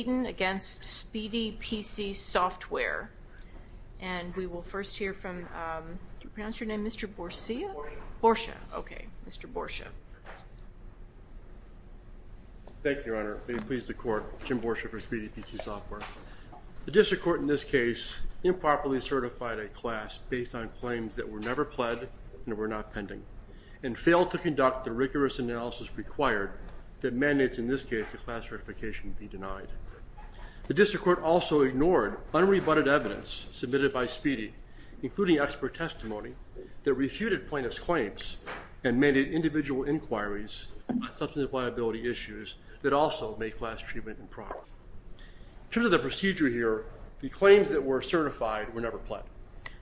against SpeedyPC Software. And we will first hear from, do you pronounce your name Mr. Borsia? Borsia, okay, Mr. Borsia. Thank you, Your Honor. May it please the court, Jim Borsia for SpeedyPC Software. The district court in this case improperly certified a class based on claims that were never pled and were not pending and failed to conduct the rigorous analysis required that mandates in this case, your class certification be denied. The district court also ignored unrebutted evidence submitted by Speedy, including expert testimony that refuted plaintiff's claims and made it individual inquiries substantive liability issues that also make class treatment improper. True to the procedure here, the claims that were certified were never pled.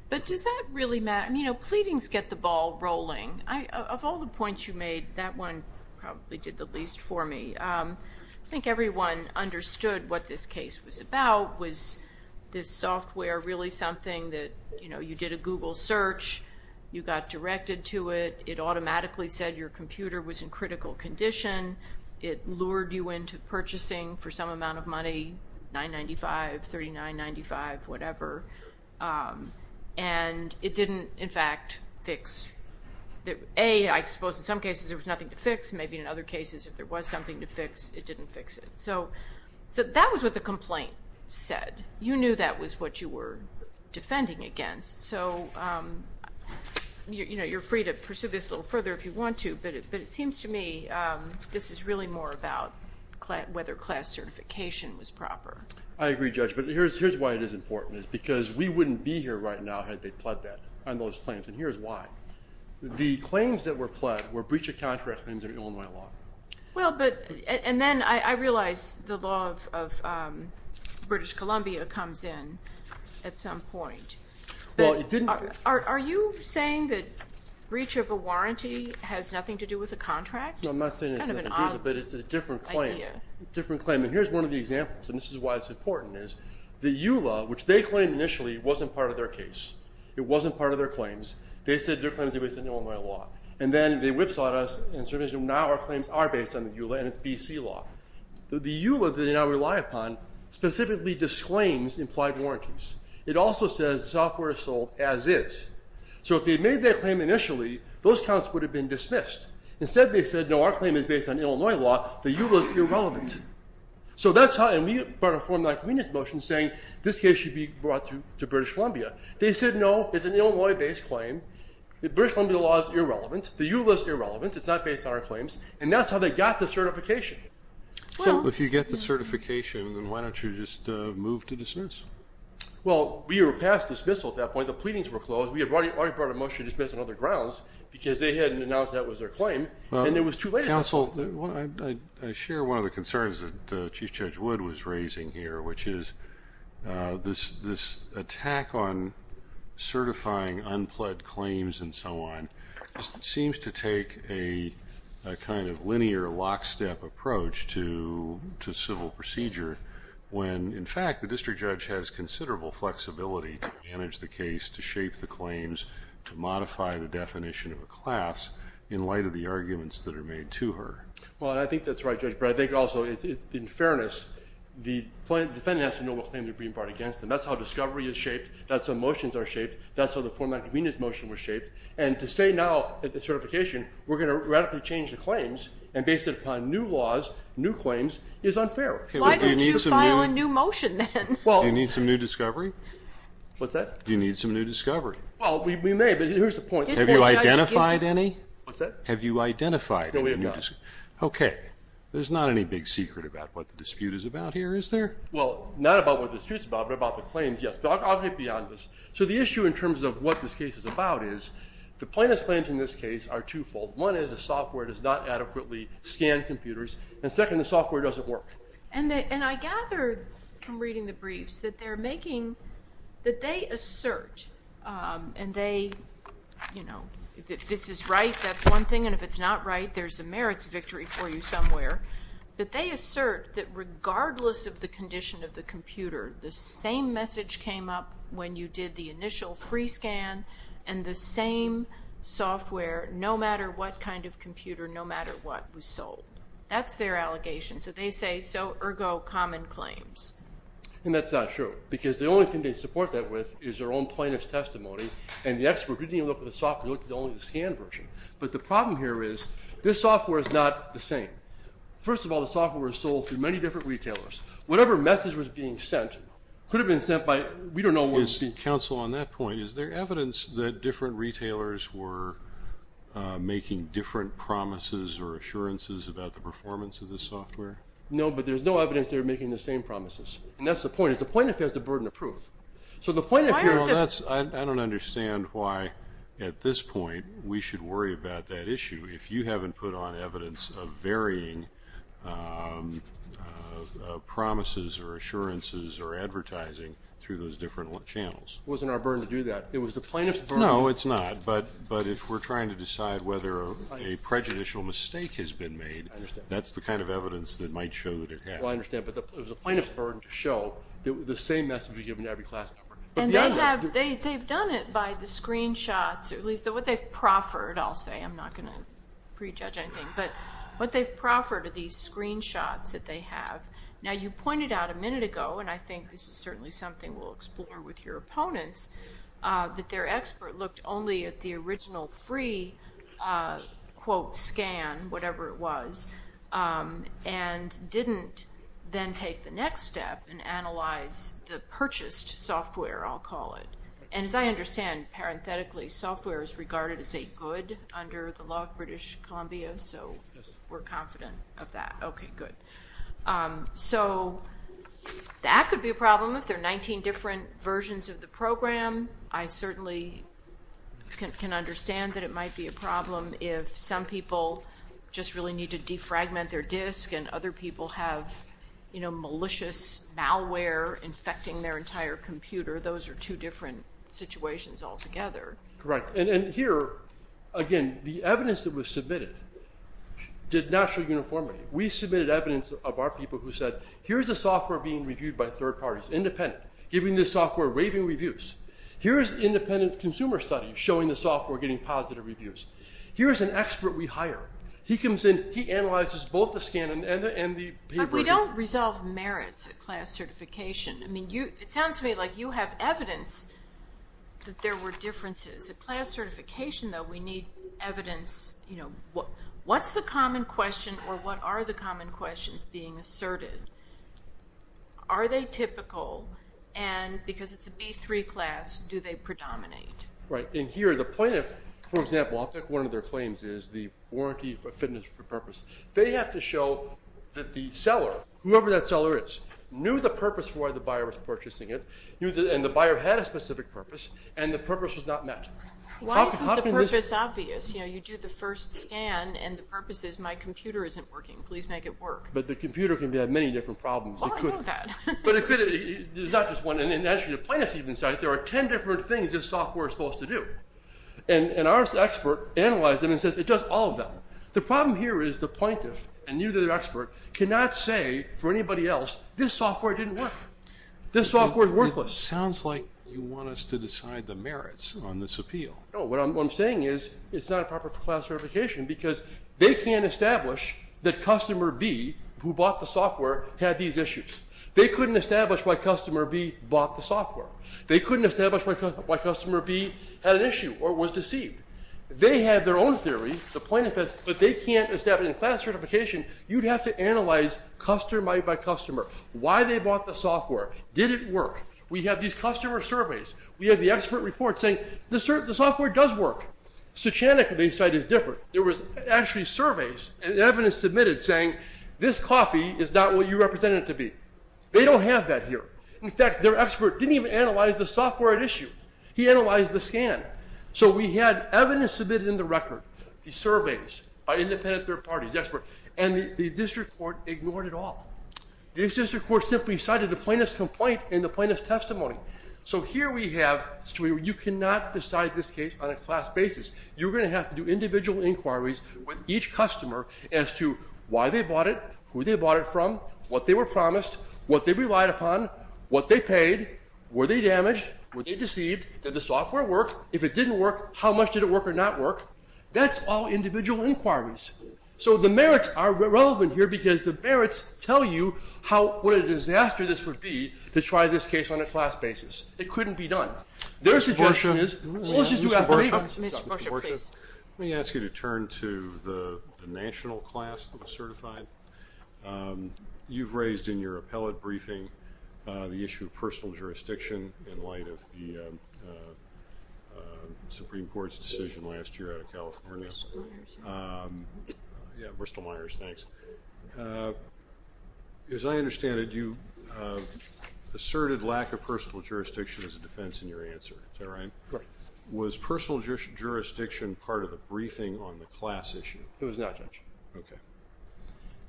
But does that really matter? I mean, you know, pleadings get the ball rolling. I, of all the points you made, that one probably did the least for me. I think everyone understood what this case was about. Was this software really something that, you know, you did a Google search, you got directed to it, it automatically said your computer was in critical condition, it lured you into purchasing for some amount of money, 9.95, 39.95, whatever. And it didn't, in fact, fix. A, I suppose in some cases there was nothing to fix. Maybe in other cases, if there was something to fix, it didn't fix it. So that was what the complaint said. You knew that was what you were defending against. So, you know, you're free to pursue this a little further if you want to, but it seems to me this is really more about whether class certification was proper. I agree, Judge, but here's why it is important, is because we wouldn't be here right now had they pled that on those claims, and here's why. The claims that were pled were breach of contract claims under Illinois law. Well, but, and then I realize the law of British Columbia comes in at some point. Well, it didn't. Are you saying that breach of a warranty has nothing to do with a contract? No, I'm not saying it has nothing to do with it, but it's a different claim. Different claim, and here's one of the examples, and this is why it's important, is the EULA, which they claimed initially, wasn't part of their case. It wasn't part of their claims. They said their claims were based on Illinois law. And then they whipsawed us, and so now our claims are based on EULA and its BC law. The EULA that they now rely upon specifically disclaims implied warranties. It also says the software is sold as is. So if they had made that claim initially, those counts would have been dismissed. Instead, they said, no, our claim is based on Illinois law. The EULA's irrelevant. So that's how, and we brought a form of non-competence motion saying this case should be brought to British Columbia. They said, no, it's an Illinois-based claim. The British Columbia law is irrelevant. The EULA's irrelevant. It's not based on our claims. And that's how they got the certification. So if you get the certification, then why don't you just move to dismiss? Well, we were passed dismissal at that point. The pleadings were closed. We had already brought a motion to dismiss on other grounds because they hadn't announced that was their claim. And it was too late. Counsel, I share one of the concerns that Chief Judge Wood was raising here, which is this attack on certifying unpled claims and so on, seems to take a kind of linear lockstep approach to civil procedure when, in fact, the district judge has considerable flexibility to manage the case, to shape the claims, to modify the definition of a class in light of the arguments that are made to her. Well, I think that's right, Judge Breyer. I think also, in fairness, the defendant has to know what claim they're being brought against them. That's how discovery is shaped. That's how motions are shaped. That's how the Form 9 Convenience Motion was shaped. And to say now, at the certification, we're gonna radically change the claims and base it upon new laws, new claims, is unfair. Why don't you file a new motion then? Do you need some new discovery? What's that? Do you need some new discovery? Well, we may, but here's the point. Have you identified any? What's that? Have you identified any? No, we have not. Okay, there's not any big secret about what the dispute is about here, is there? Well, not about what the dispute's about, but about the claims, yes. But I'll get beyond this. So the issue in terms of what this case is about is, the plaintiff's claims in this case are twofold. One is the software does not adequately scan computers. And second, the software doesn't work. And I gathered from reading the briefs that they're making, that they assert, and they, you know, if this is right, that's one thing. And if it's not right, there's a merits victory for you somewhere. But they assert that regardless of the condition of the computer, the same message came up when you did the initial free scan, and the same software, no matter what kind of computer, no matter what, was sold. That's their allegation. So they say, so, ergo, common claims. And that's not true, because the only thing they support that with is their own plaintiff's testimony, and the expert didn't even look at the software, he looked at only the scanned version. But the problem here is, this software is not the same. First of all, the software was sold through many different retailers. Whatever message was being sent could have been sent by, we don't know when. Is the counsel on that point, is there evidence that different retailers were making different promises or assurances about the performance of the software? No, but there's no evidence they were making the same promises. And that's the point, is the plaintiff has the burden of proof. So the plaintiff, you know, that's, I don't understand why, at this point, we should worry about that issue if you haven't put on evidence of varying promises or assurances or advertising through those different channels. Wasn't our burden to do that. It was the plaintiff's burden. No, it's not. But if we're trying to decide whether a prejudicial mistake has been made, that's the kind of evidence that might show that it has. Well, I understand, but it was the plaintiff's burden to show the same message was given to every class member. And they've done it by the screenshots, or at least what they've proffered, I'll say, I'm not gonna prejudge anything, but what they've proffered are these screenshots that they have. Now, you pointed out a minute ago, and I think this is certainly something we'll explore with your opponents, that their expert looked only at the original free, quote, scan, whatever it was, and didn't then take the next step and analyze the purchased software, I'll call it. And as I understand, parenthetically, software is regarded as a good under the law of British Columbia. Yes. So we're confident of that. Okay, good. So that could be a problem if there are 19 different versions of the program. I certainly can understand that it might be a problem if some people just really need to defragment their disk and other people have malicious malware infecting their entire computer. Those are two different situations altogether. Correct, and here, again, the evidence that was submitted did not show uniformity. We submitted evidence of our people who said, here's a software being reviewed by third parties, independent, giving this software raving reviews. Here's independent consumer studies showing the software getting positive reviews. Here's an expert we hire. He comes in, he analyzes both the scan and the paper. But we don't resolve merits at class certification. I mean, it sounds to me like you have evidence that there were differences. At class certification, though, we need evidence. What's the common question or what are the common questions being asserted? Are they typical? And because it's a B3 class, do they predominate? Right, and here, the plaintiff, for example, I'll pick one of their claims is the warranty fitness for purpose. They have to show that the seller, whoever that seller is, knew the purpose for why the buyer was purchasing it and the buyer had a specific purpose and the purpose was not met. Why isn't the purpose obvious? You know, you do the first scan and the purpose is my computer isn't working. Please make it work. But the computer can have many different problems. Well, I know that. But it could, there's not just one. And actually, the plaintiff even said, there are 10 different things this software is supposed to do. And our expert analyzed them and says, it does all of them. The problem here is the plaintiff and you, the expert, cannot say for anybody else, this software didn't work. This software is worthless. Sounds like you want us to decide the merits on this appeal. No, what I'm saying is, it's not a proper class certification because they can't establish that customer B, who bought the software, had these issues. They couldn't establish why customer B bought the software. They couldn't establish why customer B had an issue or was deceived. They had their own theory, the plaintiff had, but they can't establish, in class certification, you'd have to analyze customer by customer. Why they bought the software? Did it work? We have these customer surveys. We have the expert report saying, the software does work. Suchanick, they said, is different. There was actually surveys and evidence submitted saying, this coffee is not what you represent it to be. They don't have that here. In fact, their expert didn't even analyze the software at issue. He analyzed the scan. So we had evidence submitted in the record, the surveys by independent third parties, the expert, and the district court ignored it all. The district court simply cited the plaintiff's complaint and the plaintiff's testimony. So here we have a situation where you cannot decide this case on a class basis. You're going to have to do individual inquiries with each customer as to why they bought it, who they bought it from, what they were promised, what they relied upon, what they paid, were they damaged, were they deceived, did the software work? If it didn't work, how much did it work or not work? That's all individual inquiries. So the merits are relevant here because the merits tell you what a disaster this would be to try this case on a class basis. It couldn't be done. Their suggestion is, well, let's just do that for now. Mr. Borsha, let me ask you to turn to the national class that was certified. You've raised in your appellate briefing the issue of personal jurisdiction in light of the Supreme Court's decision last year out of California. Yeah, Bristol Myers, thanks. As I understand it, you asserted lack of personal jurisdiction as a defense in your answer. Is that right? Correct. Was personal jurisdiction part of the briefing on the class issue? It was not, Judge. Okay.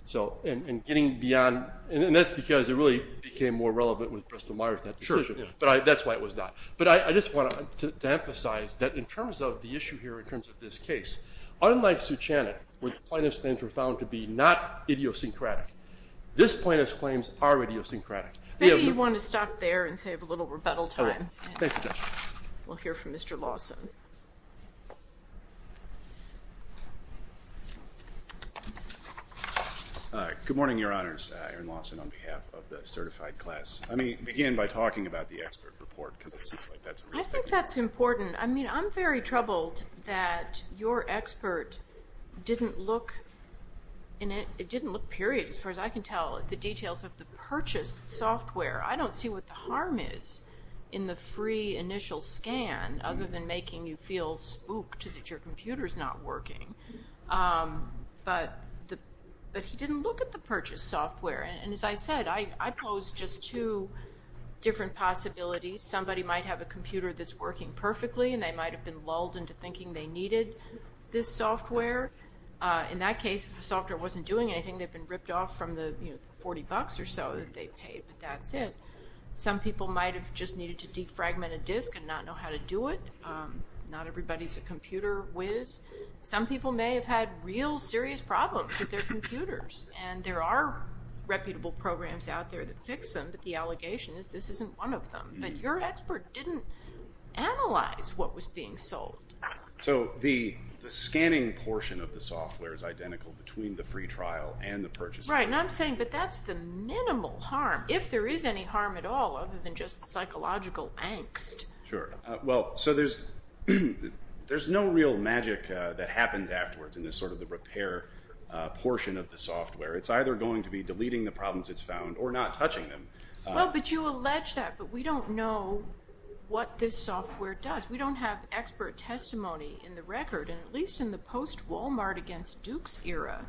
So, and getting beyond, and that's because it really became more relevant with Bristol Myers, that decision. But that's why it was not. But I just want to emphasize that in terms of the issue here, in terms of this case, unlike Suchanick, where plaintiffs claims were found to be not idiosyncratic, this plaintiff's claims are idiosyncratic. Maybe you want to stop there and save a little rebuttal time. Thank you, Judge. We'll hear from Mr. Lawson. Good morning, your honors. Aaron Lawson on behalf of the certified class. Let me begin by talking about the expert report, because it seems like that's a reason. I think that's important. I mean, I'm very troubled that your expert didn't look, it didn't look, period, as far as I can tell, the details of the purchased software. I don't see what the harm is in the free initial scan, other than making you feel spooked that your computer's not working. But he didn't look at the purchased software. And as I said, I pose just two different possibilities. Somebody might have a computer that's working perfectly, and they might have been lulled into thinking they needed this software. In that case, if the software wasn't doing anything, they've been ripped off from the 40 bucks or so that they paid, but that's it. Some people might have just needed to defragment a disk and not know how to do it. Not everybody's a computer whiz. Some people may have had real serious problems with their computers, and there are reputable programs out there that fix them, but the allegation is this isn't one of them. But your expert didn't analyze what was being sold. So the scanning portion of the software is identical between the free trial and the purchase. Right, and I'm saying, but that's the minimal harm. If there is any harm at all, other than just psychological angst. Sure, well, so there's no real magic that happens afterwards in this sort of the repair portion of the software. It's either going to be deleting the problems it's found or not touching them. Well, but you allege that, but we don't know what this software does. We don't have expert testimony in the record, and at least in the post-Walmart against Dukes era,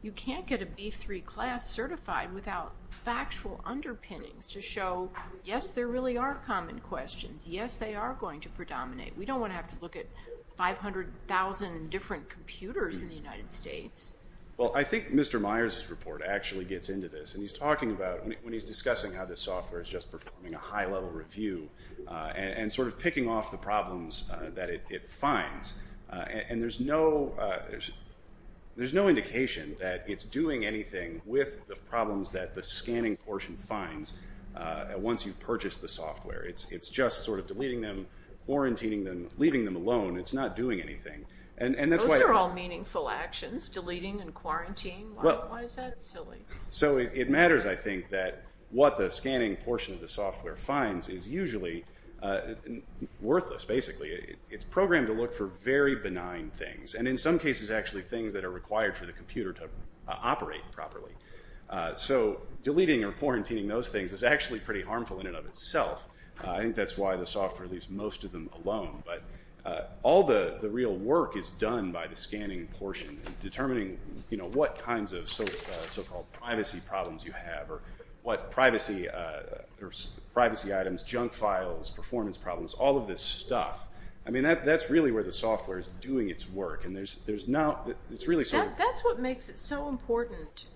you can't get a B3 class certified without factual underpinnings to show, yes, there really are common questions. Yes, they are going to predominate. We don't want to have to look at 500,000 different computers in the United States. Well, I think Mr. Myers' report actually gets into this, and he's talking about, when he's discussing how this software is just performing a high-level review and sort of picking off the problems that it finds, and there's no indication that it's doing anything with the problems that the scanning portion finds once you've purchased the software. It's just sort of deleting them, quarantining them, leaving them alone. It's not doing anything, and that's why- Those are all meaningful actions, deleting and quarantining. Why is that silly? So it matters, I think, that what the scanning portion of the software finds is usually worthless, basically. It's programmed to look for very benign things, and in some cases, actually things that are required for the computer to operate properly. So deleting or quarantining those things is actually pretty harmful in and of itself. I think that's why the software leaves most of them alone, but all the real work is done by the scanning portion, determining what kinds of so-called privacy problems you have or what privacy items, junk files, performance problems, all of this stuff. I mean, that's really where the software is doing its work, and there's not, it's really sort of- That's what makes it so important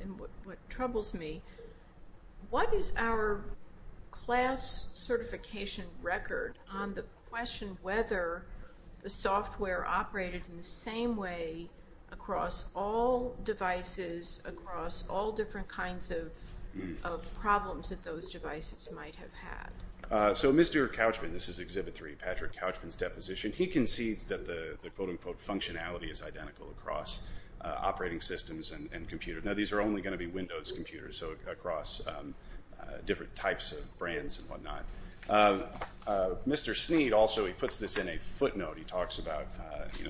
and what troubles me. What is our class certification record on the question whether the software operated in the same way across all devices, across all different kinds of problems that those devices might have had? So Mr. Couchman, this is Exhibit 3, Patrick Couchman's deposition, he concedes that the quote-unquote functionality is identical across operating systems and computers. Now, these are only gonna be Windows computers, so across different types of brands and whatnot. Mr. Sneed also, he puts this in a footnote. He talks about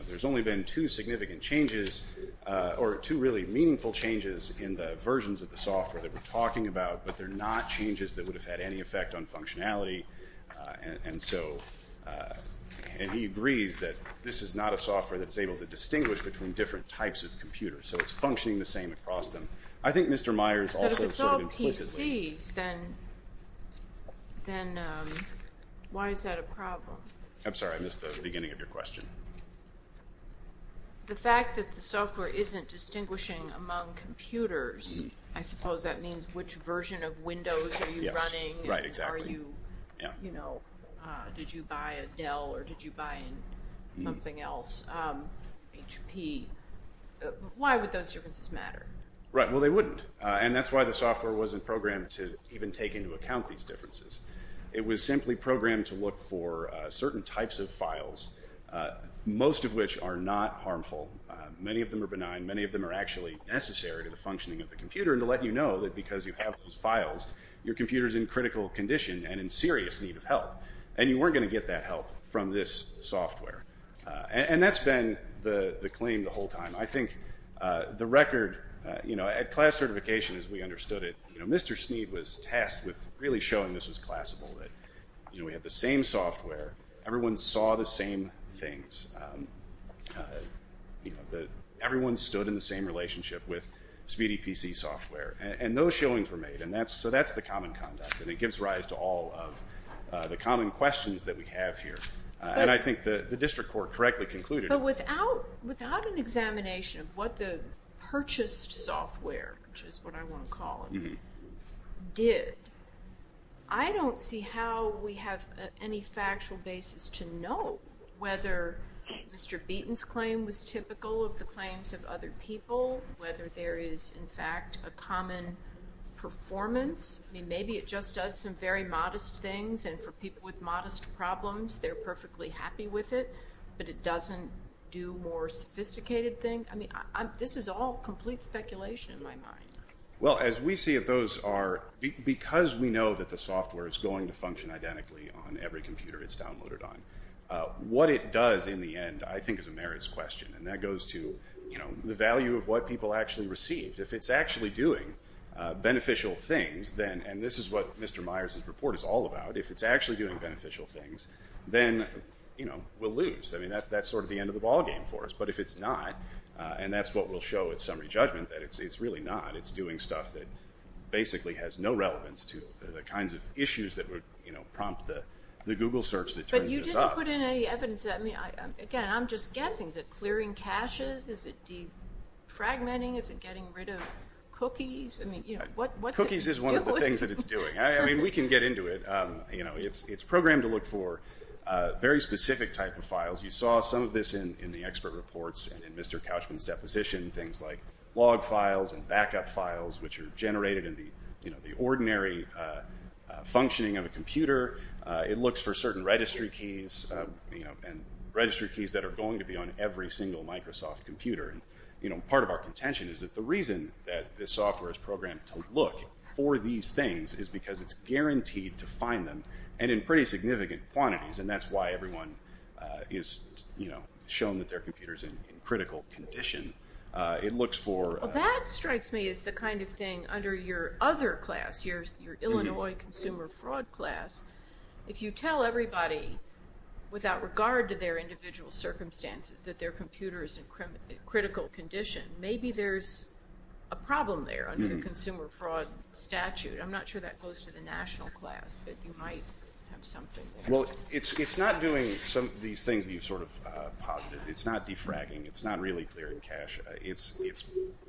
there's only been two significant changes, or two really meaningful changes in the versions of the software that we're talking about, but they're not changes that would have had any effect on functionality. And he agrees that this is not a software that's able to distinguish between different types of computers, so it's functioning the same across them. I think Mr. Myers also sort of implicitly- But if it's all PCs, then why is that a problem? I'm sorry, I missed the beginning of your question. The fact that the software isn't distinguishing among computers, I suppose that means which version of Windows are you running? Right, exactly. And are you, you know, did you buy a Dell or did you buy something else? HP, why would those differences matter? Right, well they wouldn't, and that's why the software wasn't programmed It was simply programmed to look for certain types of files most of which are not harmful. Many of them are benign, many of them are actually necessary to the functioning of the computer and to let you know that because you have those files, your computer's in critical condition and in serious need of help. And you weren't gonna get that help from this software. And that's been the claim the whole time. I think the record, you know, at class certification as we understood it, you know, Mr. Sneed was tasked with really showing this was classable, that, you know, we have the same software, everyone saw the same things. Everyone stood in the same relationship with Speedy PC software. And those showings were made. And that's, so that's the common conduct. And it gives rise to all of the common questions that we have here. And I think the district court correctly concluded. But without an examination of what the purchased software, which is what I wanna call it, did, I don't see how we have any factual basis to know whether Mr. Beaton's claim was typical of the claims of other people, whether there is in fact a common performance. I mean, maybe it just does some very modest things. And for people with modest problems, they're perfectly happy with it. But it doesn't do more sophisticated things. I mean, this is all complete speculation in my mind. Well, as we see it, those are, because we know that the software is going to function identically on every computer it's downloaded on. What it does in the end, I think, is a merits question. And that goes to, you know, the value of what people actually received. If it's actually doing beneficial things, then, and this is what Mr. Myers' report is all about, if it's actually doing beneficial things, then, you know, we'll lose. I mean, that's sort of the end of the ballgame for us. But if it's not, and that's what we'll show at summary judgment, that it's really not, it's doing stuff that basically has no relevance to the kinds of issues that would, you know, prompt the Google search that turns us off. But you didn't put in any evidence, I mean, again, I'm just guessing. Is it clearing caches? Is it defragmenting? Is it getting rid of cookies? I mean, you know, what's it doing? Cookies is one of the things that it's doing. I mean, we can get into it. You know, it's programmed to look for very specific type of files. You saw some of this in the expert reports and in Mr. Couchman's deposition, things like log files and backup files, which are generated in the, you know, the ordinary functioning of a computer. It looks for certain registry keys, you know, and registry keys that are going to be on every single Microsoft computer. And, you know, part of our contention is that the reason that this software is programmed to look for these things is because it's guaranteed to find them, and in pretty significant quantities. And that's why everyone is, you know, shown that their computer's in critical condition. It looks for- Well, that strikes me as the kind of thing under your other class, your Illinois consumer fraud class, if you tell everybody, without regard to their individual circumstances, that their computer is in critical condition, maybe there's a problem there under the consumer fraud statute. I'm not sure that goes to the national class, but you might have something there. Well, it's not doing some of these things that you've sort of posited. It's not defragging. It's not really clearing cash. It's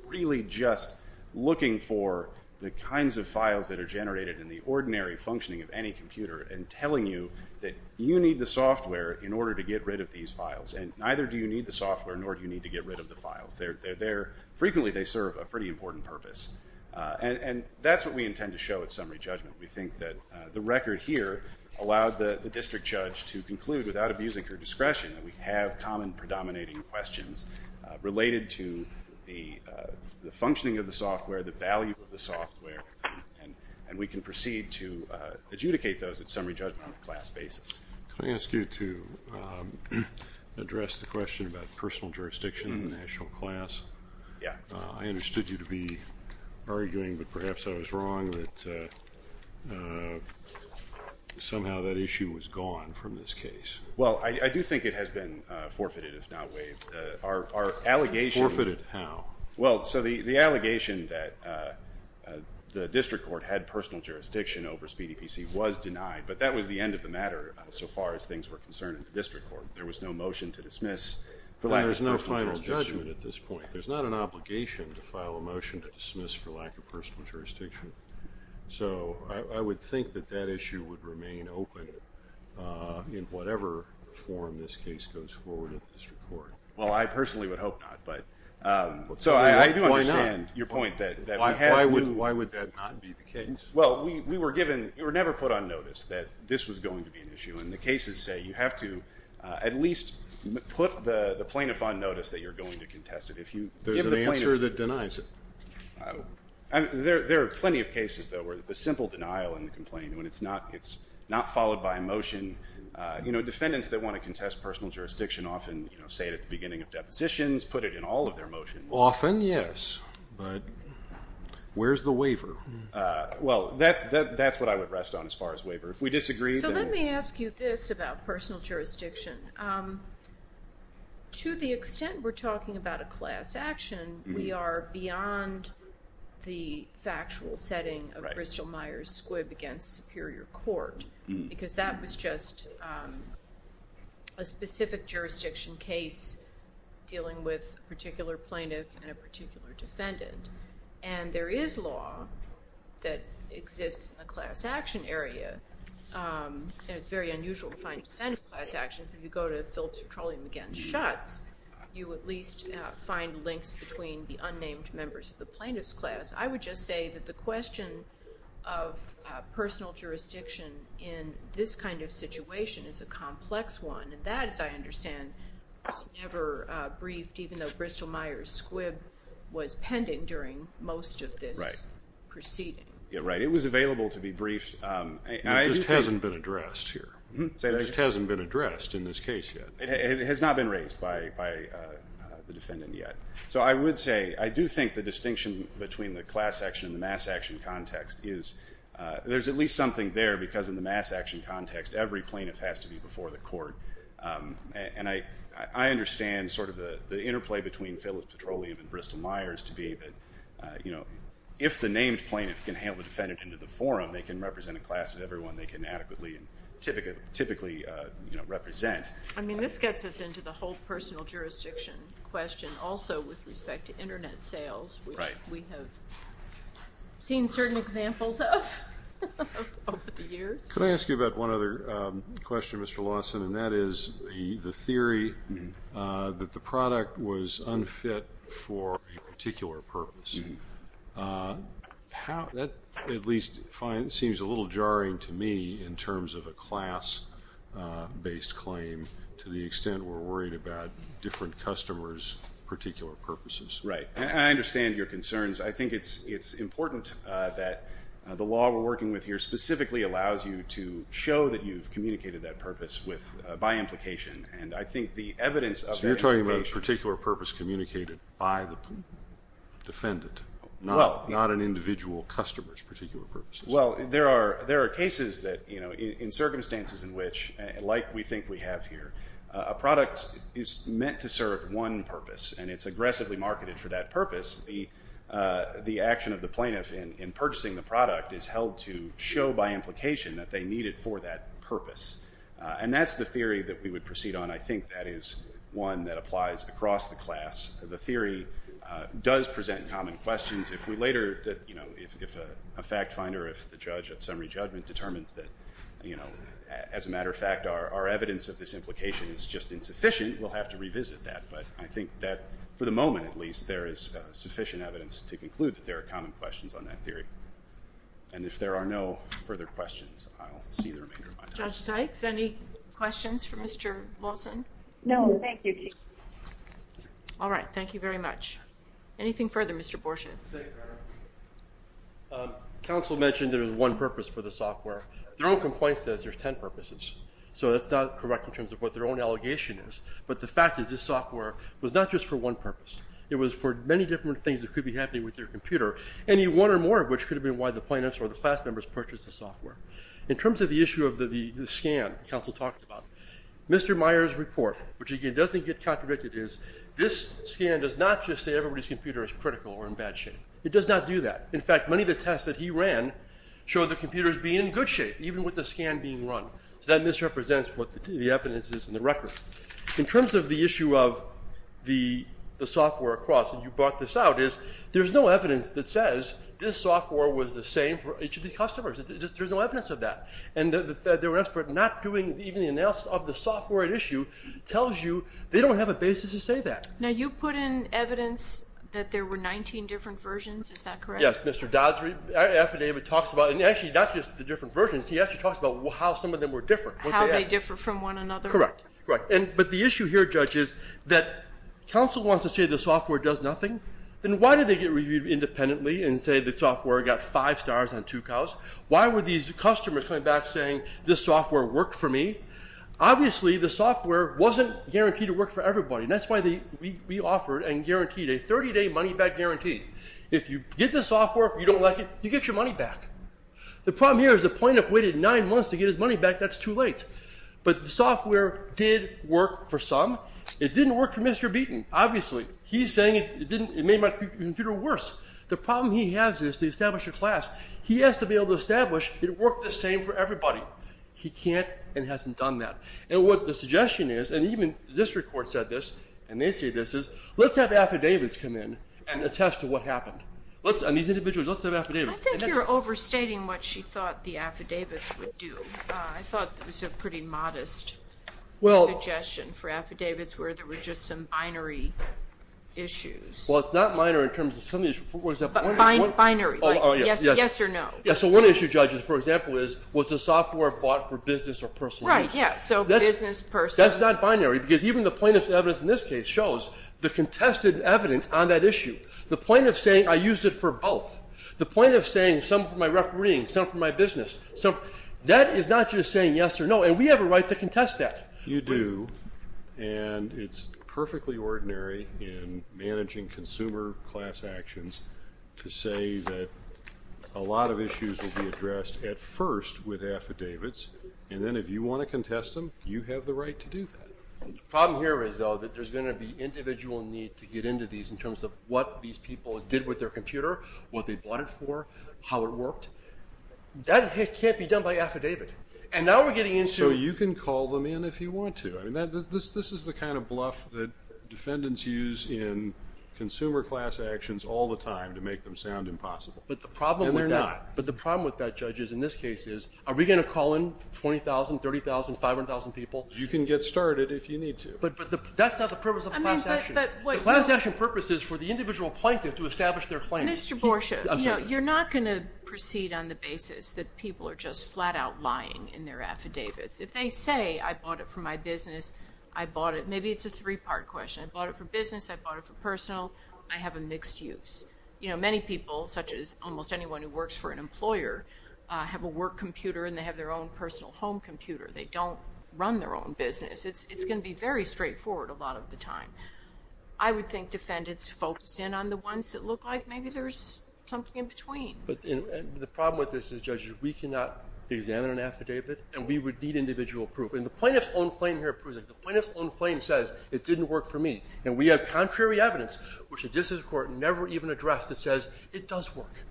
really just looking for the kinds of files that are generated in the ordinary functioning of any computer and telling you that you need the software in order to get rid of these files. And neither do you need the software, nor do you need to get rid of the files. Frequently, they serve a pretty important purpose. And that's what we intend to show at summary judgment. We think that the record here allowed the district judge to conclude, without abusing her discretion, that we have common predominating questions related to the functioning of the software, the value of the software, and we can proceed to adjudicate those at summary judgment on a class basis. Can I ask you to address the question about personal jurisdiction in the national class? Yeah. I understood you to be arguing, but perhaps I was wrong, that somehow that issue was gone from this case. Well, I do think it has been forfeited, if not waived. Our allegation... Forfeited how? Well, so the allegation that the district court had personal jurisdiction over Speedy PC was denied, but that was the end of the matter so far as things were concerned in the district court. There was no motion to dismiss for lack of personal jurisdiction. There's no final judgment at this point. There's not an obligation to file a motion to dismiss for lack of personal jurisdiction. So I would think that that issue would remain open in whatever form this case goes forward at the district court. Well, I personally would hope not, but so I do understand your point that... Why would that not be the case? Well, we were given... You were never put on notice that this was going to be an issue, and the cases say you have to at least put the plaintiff on notice that you're going to contest it. If you give the plaintiff... There's an answer that denies it. There are plenty of cases, though, where the simple denial and the complaint, when it's not followed by a motion. Defendants that want to contest personal jurisdiction often say it at the beginning of depositions, put it in all of their motions. Often, yes, but where's the waiver? Well, that's what I would rest on as far as waiver. If we disagree, then... So let me ask you this about personal jurisdiction. To the extent we're talking about a class action, we are beyond the factual setting of Bristol-Myers Squibb against Superior Court, because that was just a specific jurisdiction case dealing with a particular plaintiff and a particular defendant, and there is law that exists in a class action area, and it's very unusual to find a defendant in a class action. If you go to Phillips Petroleum against Schutz, you at least find links between the unnamed members of the plaintiff's class. I would just say that the question of personal jurisdiction in this kind of situation is a complex one, and that, as I understand, was never briefed, even though Bristol-Myers Squibb was pending during most of this proceeding. Yeah, right, it was available to be briefed. It just hasn't been addressed here. It just hasn't been addressed in this case yet. It has not been raised by the defendant yet. So I would say, I do think the distinction between the class action and the mass action context is there's at least something there, because in the mass action context, every plaintiff has to be before the court, and I understand sort of the interplay between Phillips Petroleum and Bristol-Myers to be that if the named plaintiff can hail the defendant into the forum, they can represent a class of everyone they can adequately and typically represent. I mean, this gets us into the whole personal jurisdiction question, also with respect to internet sales, which we have seen certain examples of over the years. Could I ask you about one other question, Mr. Lawson, and that is the theory that the product was unfit for a particular purpose. How, that at least seems a little jarring to me in terms of a class-based claim to the extent we're worried about different customers' particular purposes. Right, I understand your concerns. I think it's important that the law we're working with here specifically allows you to show that you've communicated that purpose by implication, and I think the evidence of that implication. So you're talking about a particular purpose communicated by the defendant, not an individual customer's particular purpose. Well, there are cases that, you know, in circumstances in which, like we think we have here, a product is meant to serve one purpose, and it's aggressively marketed for that purpose, the action of the plaintiff in purchasing the product is held to show by implication that they need it for that purpose. And that's the theory that we would proceed on. I think that is one that applies across the class. The theory does present common questions. If we later, you know, if a fact finder, if the judge at summary judgment determines that, you know, as a matter of fact, our evidence of this implication is just insufficient, we'll have to revisit that. But I think that for the moment, at least, there is sufficient evidence to conclude that there are common questions on that theory. And if there are no further questions, I'll see the remainder of my time. Judge Sykes, any questions for Mr. Lawson? No, thank you, Chief. All right, thank you very much. Anything further, Mr. Borshin? Counsel mentioned there was one purpose for the software. Their own complaint says there's 10 purposes. So that's not correct in terms of what their own allegation is. But the fact is this software was not just for one purpose. It was for many different things that could be happening with your computer. Any one or more of which could have been why the plaintiffs or the class members purchased the software. In terms of the issue of the scan counsel talked about, Mr. Meyer's report, which again doesn't get contradicted, is this scan does not just say everybody's computer is critical or in bad shape. It does not do that. In fact, many of the tests that he ran show the computers being in good shape, even with the scan being run. So that misrepresents what the evidence is in the record. In terms of the issue of the software across, and you brought this out, is there's no evidence that says this software was the same for each of these customers. There's no evidence of that. And the fact that they were not doing even the analysis of the software at issue tells you they don't have a basis to say that. Now, you put in evidence that there were 19 different versions. Is that correct? Yes, Mr. Dodd's affidavit talks about, and actually not just the different versions. He actually talks about how some of them were different. How they differ from one another. Correct, correct. But the issue here, Judge, is that counsel wants to say the software does nothing. Then why did they get reviewed independently and say the software got five stars on two cows? Why were these customers coming back saying, this software worked for me? Obviously, the software wasn't guaranteed to work for everybody. And that's why we offered and guaranteed a 30-day money-back guarantee. If you get the software, you don't like it, you get your money back. The problem here is the point of waiting nine months to get his money back, that's too late. But the software did work for some. It didn't work for Mr. Beaton, obviously. He's saying it made my computer worse. The problem he has is to establish a class. He has to be able to establish it worked the same for everybody. He can't and hasn't done that. And what the suggestion is, and even the district court said this, and they say this, is let's have affidavits come in and attest to what happened. Let's, on these individuals, let's have affidavits. I think you're overstating what she thought the affidavits would do. I thought it was a pretty modest suggestion for affidavits where there were just some binary issues. Well, it's not minor in terms of some of these, what was that, one or two? Binary, like yes or no. Yeah, so one issue, judges, for example, is was the software bought for business or personal use? Right, yeah, so business, personal. That's not binary because even the plaintiff's evidence in this case shows the contested evidence on that issue. The plaintiff's saying I used it for both. The plaintiff's saying some for my refereeing, some for my business. So that is not just saying yes or no, and we have a right to contest that. You do, and it's perfectly ordinary in managing consumer class actions to say that a lot of issues will be addressed at first with affidavits, and then if you want to contest them, you have the right to do that. Problem here is, though, that there's gonna be individual need to get into these in terms of what these people did with their computer, what they bought it for, how it worked. That can't be done by affidavit. And now we're getting into. So you can call them in if you want to. I mean, this is the kind of bluff that defendants use in consumer class actions all the time to make them sound impossible. But the problem with that. And they're not. But the problem with that, judges, in this case is, are we gonna call in 20,000, 30,000, 500,000 people? You can get started if you need to. But that's not the purpose of class action. The class action purpose is for the individual plaintiff to establish their claim. Mr. Borsha, you're not gonna proceed on the basis that people are just flat out lying in their affidavits. If they say, I bought it for my business, I bought it, maybe it's a three-part question. I bought it for business, I bought it for personal, I have a mixed use. You know, many people, such as almost anyone who works for an employer, have a work computer and they have their own personal home computer. They don't run their own business. It's gonna be very straightforward a lot of the time. I would think defendants focus in on the ones that look like maybe there's something in between. But the problem with this is, judges, we cannot examine an affidavit and we would need individual proof. And the plaintiff's own claim here proves it. The plaintiff's own claim says, it didn't work for me. And we have contrary evidence, which the district court never even addressed, that says, it does work.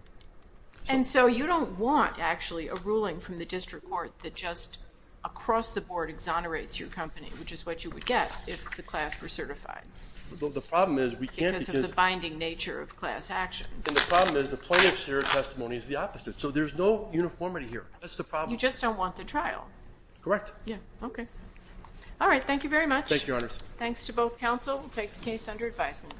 And so you don't want, actually, a ruling from the district court that just, across the board, exonerates your company, which is what you would get if the class were certified. The problem is, we can't because of the binding nature of class actions. And the problem is, the plaintiff's testimony is the opposite. So there's no uniformity here. That's the problem. You just don't want the trial. Correct. Yeah, okay. All right, thank you very much. Thank you, Your Honors. Thanks to both counsel. We'll take the case under advisement.